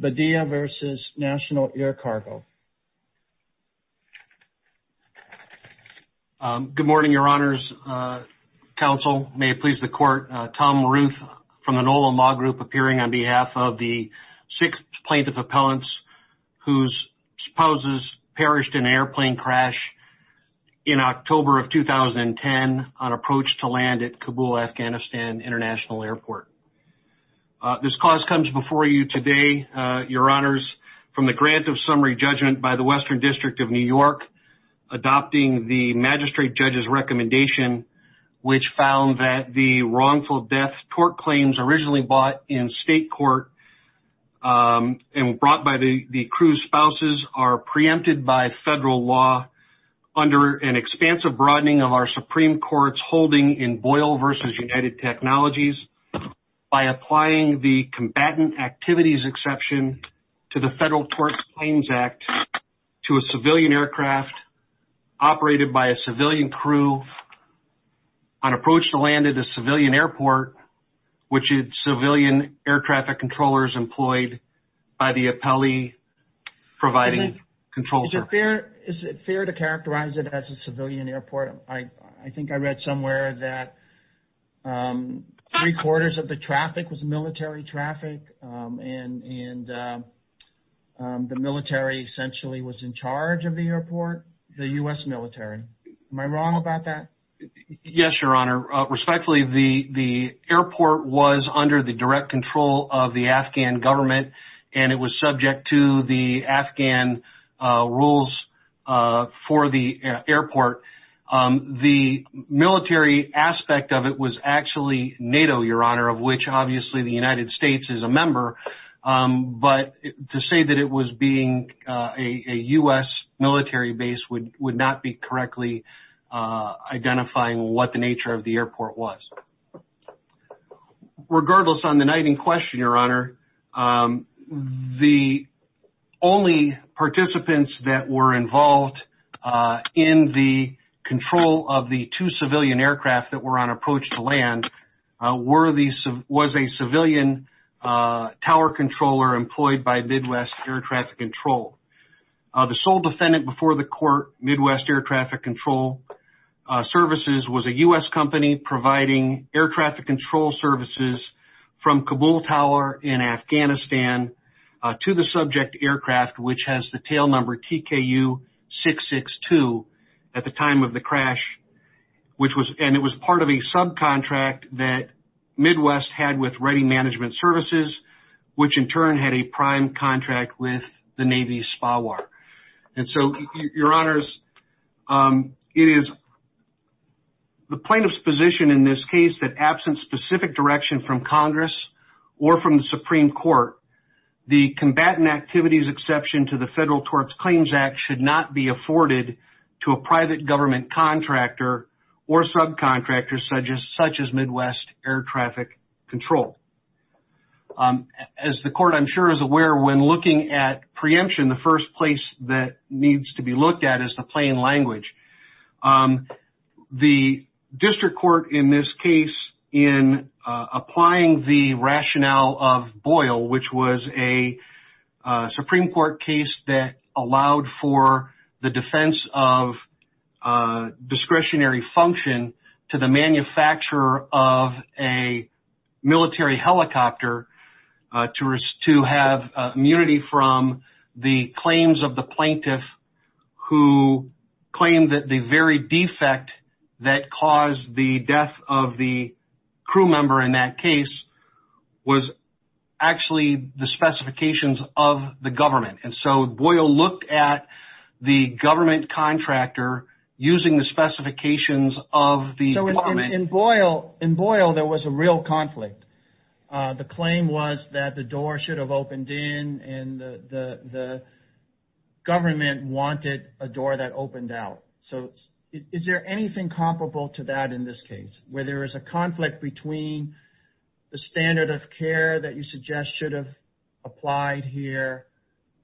Badilla v. National Air Cargo, Inc. This cause comes before you today, Your Honors, from the grant of summary judgment by the Western District of New York, adopting the magistrate judge's recommendation, which found that the wrongful death tort claims originally bought in state court and brought by the crew's spouses are preempted by federal law under an expansive broadening of our Supreme Court's understanding in Boyle v. United Technologies by applying the combatant activities exception to the Federal Tort Claims Act to a civilian aircraft operated by a civilian crew on approach to land at a civilian airport, which had civilian air traffic controllers employed by the appellee providing control. Is it fair to characterize it as a civilian airport? I think I read somewhere that three quarters of the traffic was military traffic and the military essentially was in charge of the airport, the U.S. military. Am I wrong about that? Yes, Your Honor. Respectfully, the airport was under the direct control of the Afghan government and it was The military aspect of it was actually NATO, Your Honor, of which obviously the United States is a member. But to say that it was being a U.S. military base would not be correctly identifying what the nature of the airport was. Regardless, on the night in question, Your Honor, the only participants that were involved in the control of the two civilian aircraft that were on approach to land was a civilian tower controller employed by Midwest Air Traffic Control. The sole defendant before the court, Midwest Air Traffic Control Services, was a U.S. company providing air traffic control services from Kabul Tower in Afghanistan to the subject aircraft, which has the tail number TKU-662, at the time of the crash, which was and it was part of a subcontract that Midwest had with Ready Management Services, which in turn had a prime contract with the Navy SPAWAR. And so, Your Honors, it is the plaintiff's position in this case that absent specific direction from the company's exception to the Federal TORPS Claims Act should not be afforded to a private government contractor or subcontractor such as Midwest Air Traffic Control. As the court, I'm sure, is aware, when looking at preemption, the first place that needs to be looked at is the plain language. The district court in this case, in applying the rationale of Boyle, which was a Supreme Court case that allowed for the defense of discretionary function to the manufacturer of a military helicopter to have immunity from the claims of the plaintiff who claimed that the very defect that caused the death of the crew member in that case was actually the specifications of the government. And so Boyle looked at the government contractor using the specifications of the government. In Boyle, there was a real conflict. The claim was that the door should have opened in and the government wanted a door that opened out. So is there anything comparable to that in this case, where there is a conflict between the standard of care that you suggest should have applied here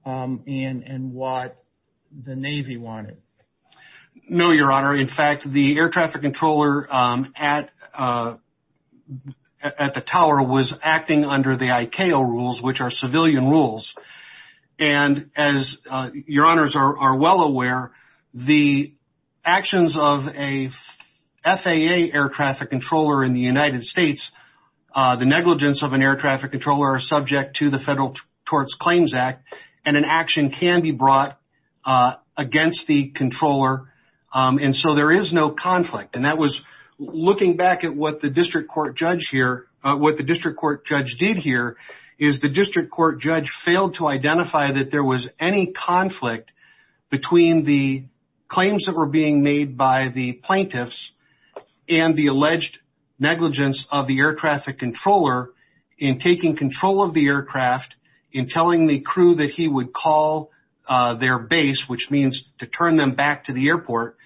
and what the Navy wanted? No, Your Honor. In fact, the air traffic controller at the tower was acting under the ICAO rules, which are civilian rules. And as Your Honors are well aware, the actions of a FAA air traffic controller in the United States, the negligence of an air traffic controller are subject to the Federal Tort Claims Act. And an action can be brought against the controller. And so there is no conflict. And that was looking back at what the district court judge here, what the district court judge did here, is the district court judge failed to identify that there was any conflict between the claims that were being made by the plaintiffs and the he would call their base, which means to turn them back to the airport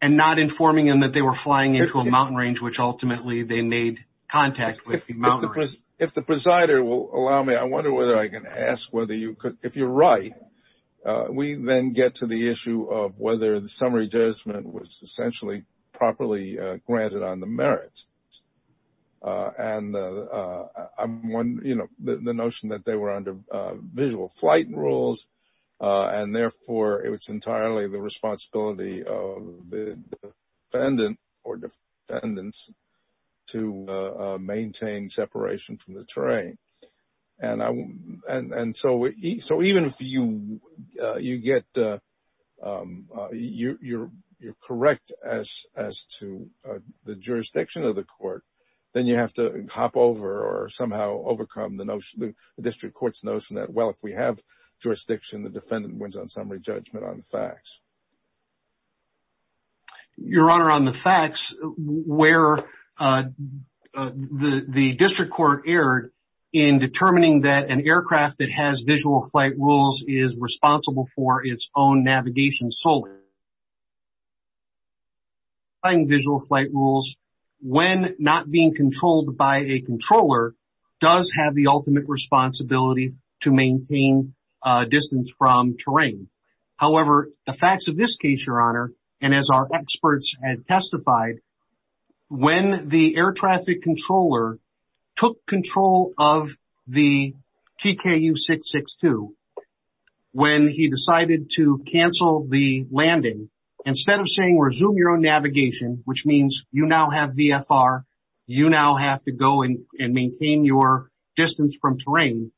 and not informing them that they were flying into a mountain range, which ultimately they made contact with. If the presider will allow me, I wonder whether I can ask whether you could, if you're right, we then get to the issue of whether the summary judgment was essentially properly granted on the merits. And I'm one, you know, the notion that they were under visual flight rules and therefore it was entirely the responsibility of the defendant or defendants to maintain separation from the terrain. And so even if you get, you're correct as to the jurisdiction of the court, then you have to hop over or somehow overcome the notion, the district court's notion that, well, if we have jurisdiction, the defendant wins on summary judgment on the facts. Your Honor, on the facts, where the district court erred in determining that an aircraft that has visual flight rules is responsible for its own navigation solar. Flying visual flight rules when not being controlled by a controller does have the ultimate responsibility to maintain distance from terrain. However, the facts of this case, Your Honor, and as our experts had testified, when the air traffic controller took control of the TKU 662, when he decided to cancel the landing, instead of saying, resume your own navigation, which means you now have VFR, you now have to go and maintain your distance from terrain,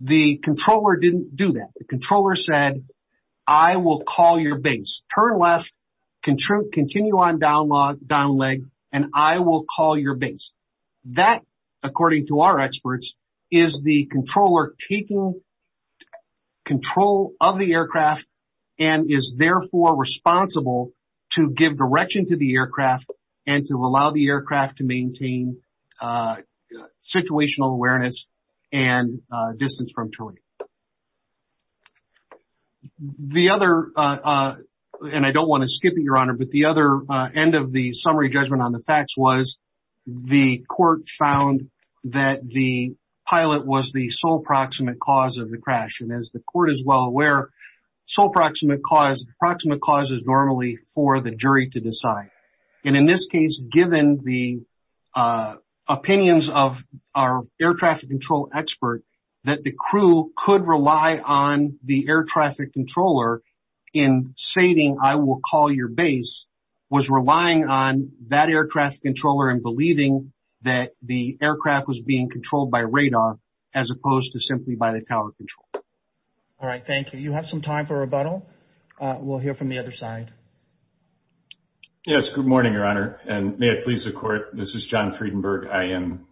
the controller didn't do that. The controller said, I will call your base, turn left, continue on down leg, and I will call your base. That, according to our experts, is the controller taking control of the aircraft and is therefore responsible to give direction to the aircraft and to allow the aircraft to maintain situational awareness and distance from terrain. The other, and I don't want to skip it, Your Honor, but the other end of the summary judgment on the facts was the court found that the pilot was the sole proximate cause of the crash. And as the court is well aware, sole proximate cause, the proximate cause is normally for the jury to decide. And in this case, given the opinions of our air traffic control expert, that the crew could rely on the air traffic controller in stating, I will call your base, was relying on that aircraft controller and believing that the aircraft was being controlled by radar, as opposed to simply by the tower control. All right, thank you. You have some time for rebuttal. We'll hear from the other side. Yes, good morning, Your Honor, and may it please the court, this is John Friedenberg. I am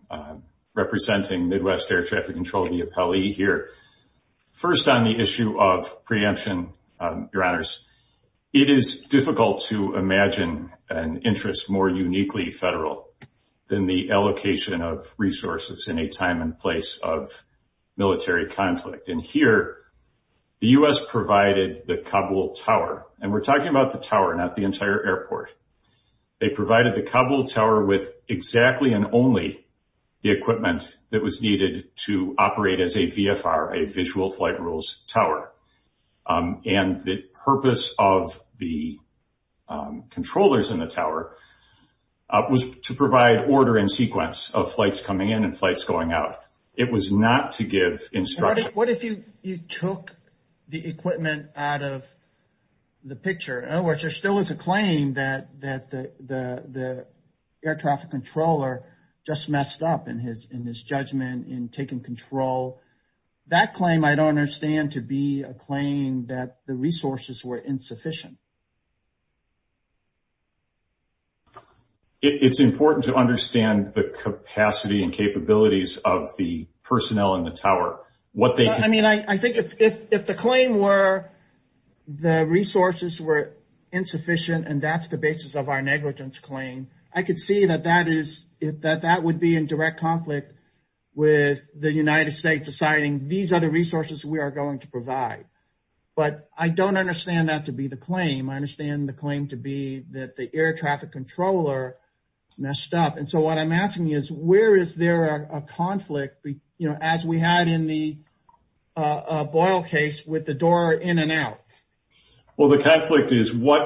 representing Midwest Air Traffic Control, the appellee here. First on the issue of preemption, Your Honors, it is difficult to imagine an interest more uniquely federal than the allocation of resources in a time and place of military conflict. And here, the U.S. provided the Kabul Tower, and we're talking about the tower, not the entire airport. They provided the Kabul Tower with exactly and only the equipment that was needed to operate as a VFR, a visual flight rules tower. And the purpose of the controllers in the tower was to provide order and sequence of flights coming in and flights going out. It was not to give instruction. What if you took the equipment out of the picture? In other words, there still is a claim that the air traffic controller just messed up in his judgment in taking control. That claim, I don't understand to be a claim that the resources were insufficient. It's important to understand the capacity and capabilities of the personnel in the tower. I mean, I think if the claim were the resources were insufficient and that's the basis of our negligence claim, I could see that that would be in direct conflict with the United States deciding these are the resources we are going to provide. But I don't understand that to be the claim. I understand the claim to be that the air traffic controller messed up. And so what I'm asking is, where is there a conflict, you know, as we had in the Boyle case with the door in and out? Well, the conflict is what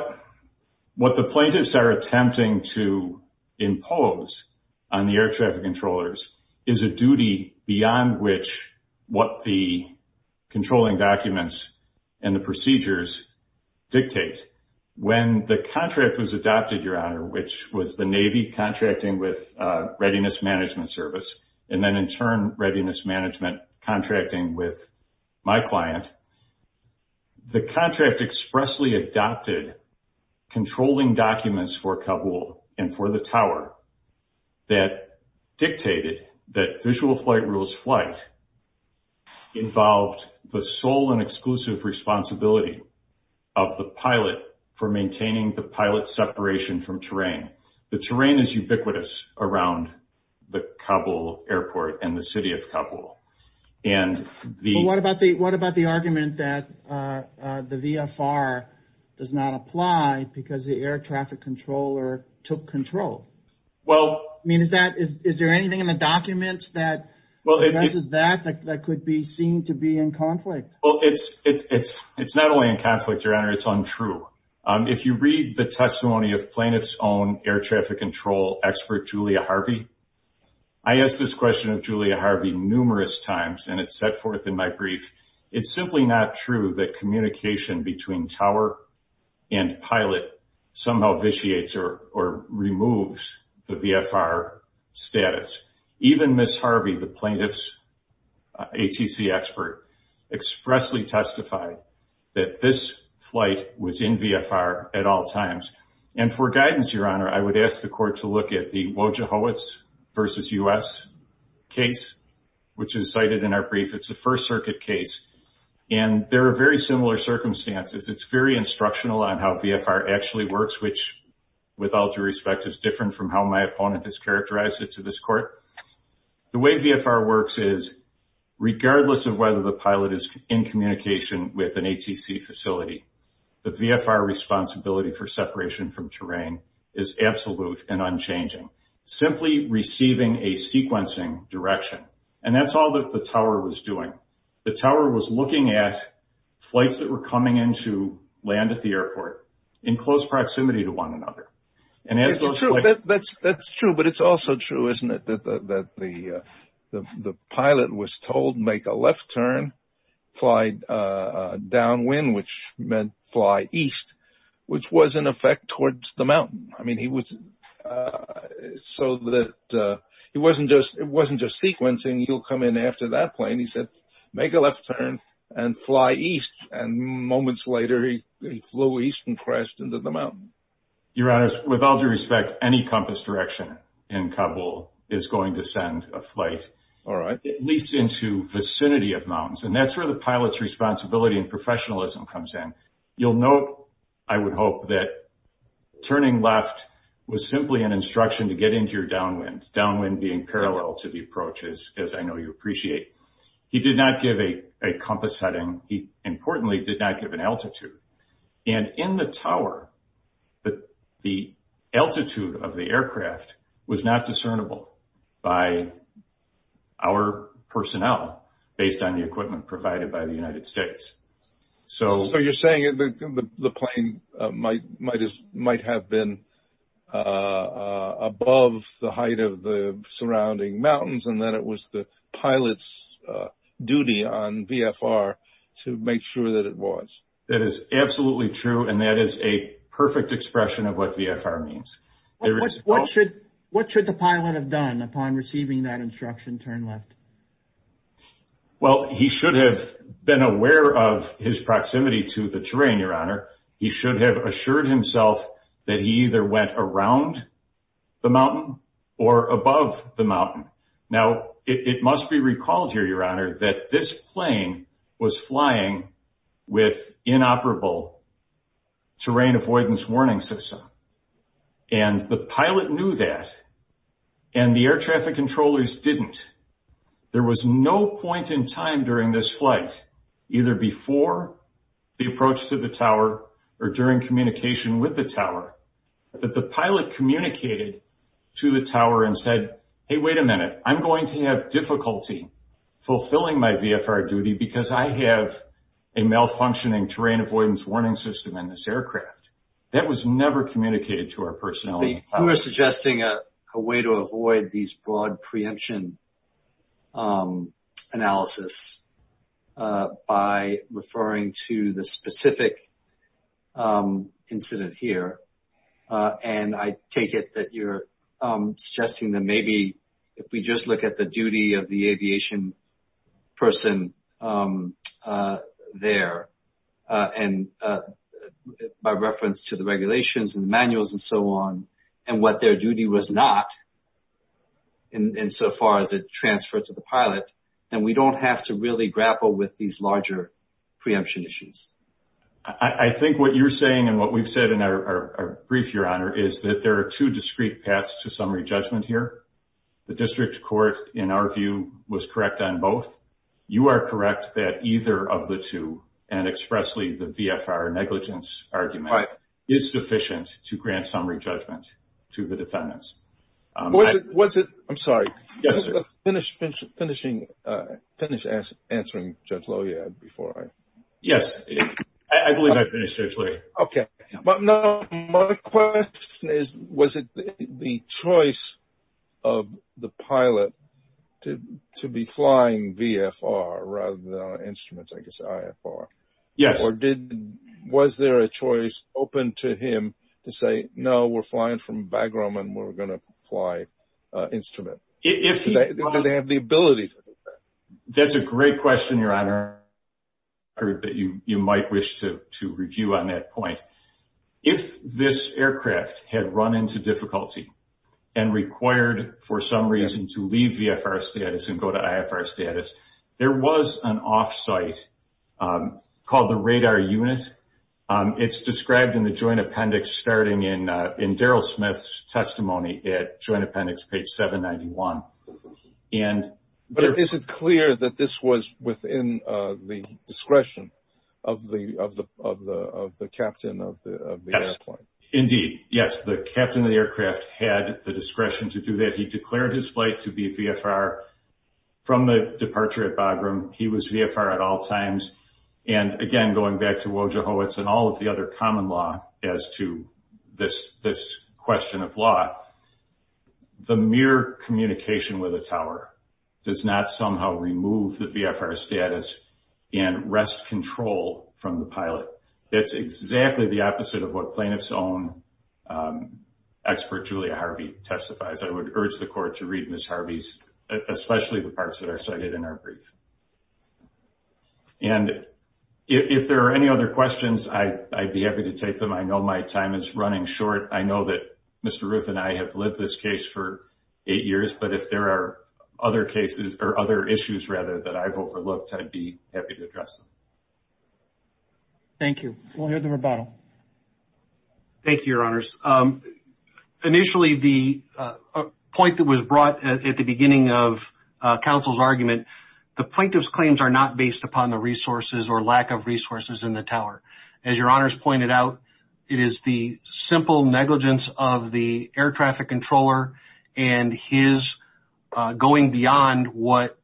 what the plaintiffs are attempting to impose on the air traffic controllers is a duty beyond which what the controlling documents and the procedures dictate. When the contract was adopted, Your Honor, which was the Navy contracting with Readiness Management Service and then in turn, Readiness Management contracting with my client. The contract expressly adopted controlling documents for Kabul and for the tower that dictated that visual flight rules flight involved the sole and exclusive responsibility of the pilot for maintaining the pilot separation from terrain. The terrain is ubiquitous around the Kabul airport and the city of Kabul. And the what about the what about the argument that the VFR does not apply because the air traffic controller took control? Well, I mean, is that is there anything in the documents that well, this is that that could be seen to be in conflict? Well, it's it's it's it's not only in conflict, Your Honor. It's untrue. If you read the testimony of plaintiff's own air traffic control expert, Julia Harvey. I asked this question of Julia Harvey numerous times, and it's set forth in my brief. It's simply not true that communication between tower and pilot somehow vitiates or removes the VFR status. Even Ms. Harvey, the plaintiff's ATC expert, expressly testified that this flight was in VFR at all times. And for guidance, Your Honor, I would ask the court to look at the Wojohowicz versus U.S. case, which is cited in our brief. It's a First Circuit case, and there are very similar circumstances. It's very instructional on how VFR actually works, which, with all due respect, is different from how my opponent has characterized it to this court. The way VFR works is regardless of whether the pilot is in communication with an ATC facility, the VFR responsibility for separation from terrain is absolute and unchanging, simply receiving a sequencing direction. And that's all that the tower was doing. The tower was looking at flights that were coming into land at the airport in close proximity to one another. And that's true, but it's also true, isn't it, that the pilot was told, make a left turn, fly downwind, which meant fly east, which was in effect towards the mountain. I mean, he was so that it wasn't just it wasn't just sequencing. He'll come in after that plane. He said, make a left turn and fly east. And moments later, he flew east and crashed into the mountain. Your Honor, with all due respect, any compass direction in Kabul is going to send a flight, at least into vicinity of mountains. And that's where the pilot's responsibility and professionalism comes in. You'll note, I would hope, that turning left was simply an instruction to get into your downwind, downwind being parallel to the approach, as I know you appreciate. He did not give a compass heading. He, importantly, did not give an altitude. And in the tower, the altitude of the aircraft was not discernible by our personnel based on the equipment provided by the United States. So you're saying that the plane might have been above the height of the surrounding mountains and that it was the pilot's duty on VFR to make sure that it was. That is absolutely true. And that is a perfect expression of what VFR means. What should what should the pilot have done upon receiving that instruction turn left? Well, he should have been aware of his proximity to the terrain, Your Honor. He should have assured himself that he either went around the mountain or above the mountain. Now, it must be recalled here, Your Honor, that this plane was flying with inoperable terrain avoidance warning system. And the pilot knew that and the air traffic controllers didn't. There was no point in time during this flight, either before the approach to the tower or during communication with the tower, that the pilot communicated to the tower and said, hey, wait a minute, I'm going to have difficulty fulfilling my VFR duty because I have a malfunctioning terrain avoidance warning system in this aircraft. That was never communicated to our personnel. You are suggesting a way to avoid these broad preemption analysis by referring to the specific incident here. And I take it that you're suggesting that maybe if we just look at the duty of the aviation person there and by reference to the regulations and manuals and so on and what their duty was not insofar as it transferred to the pilot, then we don't have to really grapple with these larger preemption issues. I think what you're saying and what we've said in our brief, Your Honor, is that there are two discrete paths to summary judgment here. The district court, in our view, was correct on both. You are correct that either of the two and expressly the VFR negligence argument is sufficient to grant summary judgment to the defendants. Was it, I'm sorry, finish answering Judge Lohjead before I. Yes, I believe I finished, Judge Lohjead. Okay. But now my question is, was it the choice of the pilot to be flying VFR rather than on instruments, I guess, IFR? Yes. Or was there a choice open to him to say, no, we're flying from Bagram and we're going to fly instrument? Because they have the ability to do that. That's a great question, Your Honor. I heard that you might wish to review on that point. If this aircraft had run into difficulty and required for some reason to leave VFR status and go to IFR status, there was an off-site called the radar unit. It's described in the joint appendix starting in Darrell Smith's testimony at joint appendix page 791. But is it clear that this was within the discretion of the captain of the airplane? Indeed. Yes, the captain of the aircraft had the discretion to do that. He declared his flight to be VFR from the departure at Bagram. He was VFR at all times. And again, going back to Wojohowicz and all of the other common law as to this question of law, the mere communication with a tower does not somehow remove the VFR status and rest control from the pilot. It's exactly the opposite of what plaintiff's own expert, Julia Harvey, testifies. I would urge the court to read Ms. Harvey's, especially the parts that are cited in her brief. And if there are any other questions, I'd be happy to take them. I know my time is running short. I know that Mr. Ruth and I have lived this case for eight years. But if there are other cases or other issues, rather, that I've overlooked, I'd be happy to address them. Thank you. We'll hear the rebuttal. Thank you, Your Honors. Initially, the point that was brought at the beginning of counsel's argument, the plaintiff's claims are not based upon the resources or lack of resources in the tower. As Your Honors pointed out, it is the simple negligence of the air traffic controller and his going beyond what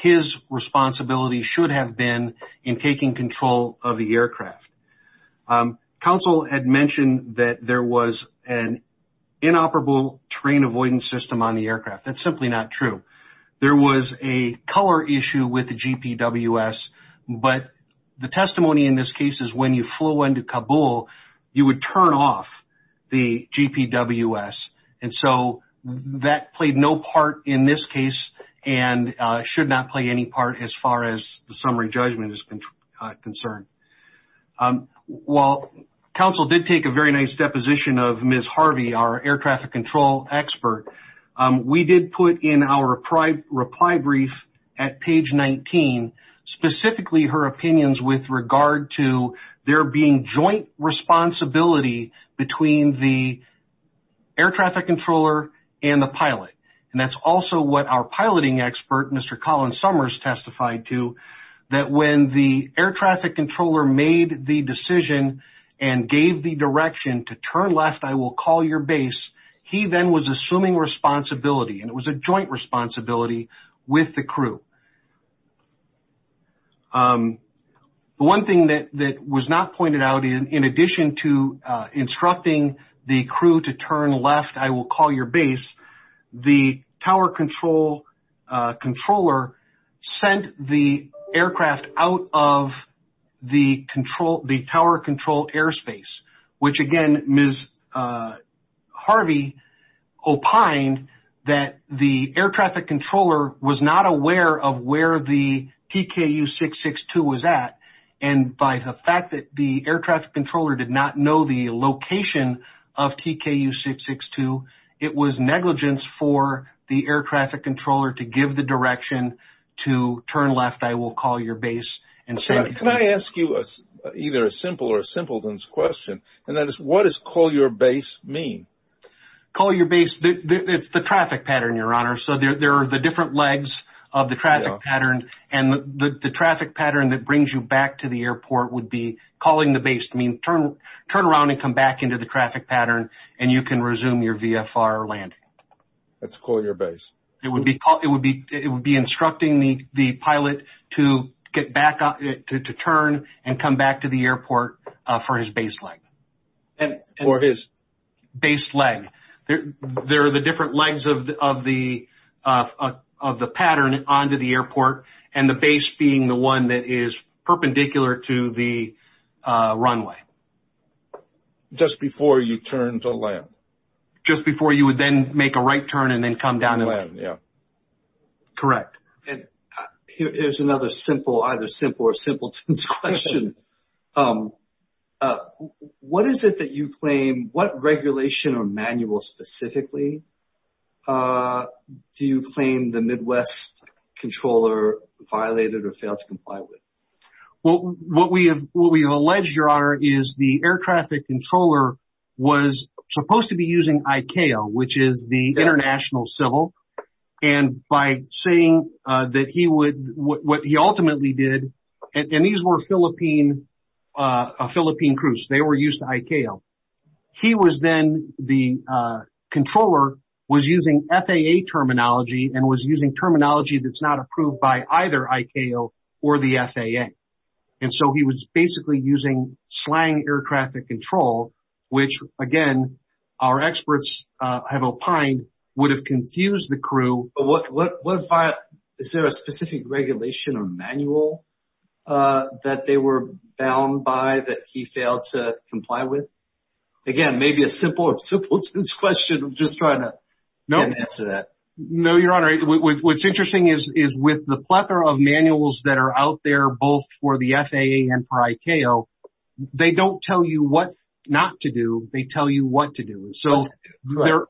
his responsibility should have been in taking control of the aircraft. Counsel had mentioned that there was an inoperable terrain avoidance system on the aircraft. That's simply not true. There was a color issue with the GPWS, but the testimony in this case is when you flow into Kabul, you would turn off the GPWS. And so that played no part in this case and should not play any part as far as the summary judgment is concerned. While counsel did take a very nice deposition of Ms. Harvey, our air traffic control expert, we did put in our reply brief at page 19, specifically her opinions with regard to there being joint responsibility between the air traffic controller and the pilot. And that's also what our piloting expert, Mr. Colin Summers, testified to, that when the air traffic controller made the decision and gave the direction to turn left, I will call your base, he then was assuming responsibility and it was a joint responsibility with the crew. The one thing that was not pointed out in addition to instructing the crew to turn left, I will call your base, the tower control controller sent the aircraft out of the control, the tower control airspace, which again, Ms. Harvey opined that the air traffic controller was not aware of where the TKU-662 was at. And by the fact that the air traffic controller did not know the location of TKU-662, it was negligence for the air traffic controller to give the direction to turn left, I will call your base. Can I ask you either a simple or a simpleton's question, and that is, what does call your base mean? Call your base, it's the traffic pattern, Your Honor, so there are the different legs of the traffic pattern, and the traffic pattern that brings you back to the airport would be calling the base to turn around and come back into the traffic pattern, and you can resume your VFR landing. That's call your base. It would be instructing the pilot to turn and come back to the airport for his base leg. For his... Base leg. There are the different legs of the pattern onto the airport, and the base being the one that is perpendicular to the runway. Just before you turn to land. Just before you would then make a right turn and then come down to land, yeah. Correct. And here's another simple, either simple or simpleton's question. What is it that you claim, what regulation or manual specifically do you claim the Midwest controller violated or failed to comply with? Well, what we have alleged, Your Honor, is the air traffic controller was supposed to be using ICAO, which is the international civil, and by saying that he would, what he ultimately did, and these were Philippine, Philippine crews, they were used to ICAO. He was then, the controller was using FAA terminology and was using terminology that's not approved by either ICAO or the FAA. And so he was basically using slang air traffic control, which again, our experts have opined would have confused the crew. What if I, is there a specific regulation or manual that they were bound by that he failed to comply with? Again, maybe a simple or simpleton's question. Just trying to answer that. No, Your Honor. What's interesting is with the plethora of manuals that are out there, both for the FAA and for ICAO, they don't tell you what not to do. They tell you what to do. So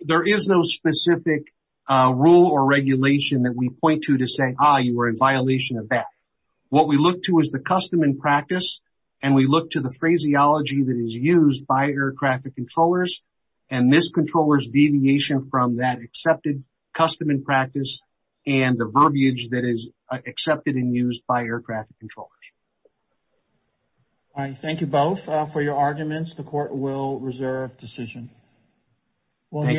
there is no specific rule or regulation that we point to to say, ah, you were in violation of that. What we look to is the custom and practice. And we look to the phraseology that is used by air traffic controllers. And this controller's deviation from that accepted custom and practice and the verbiage that is accepted and used by air traffic controllers. All right. Thank you both for your arguments. The court will reserve decision. We'll hear.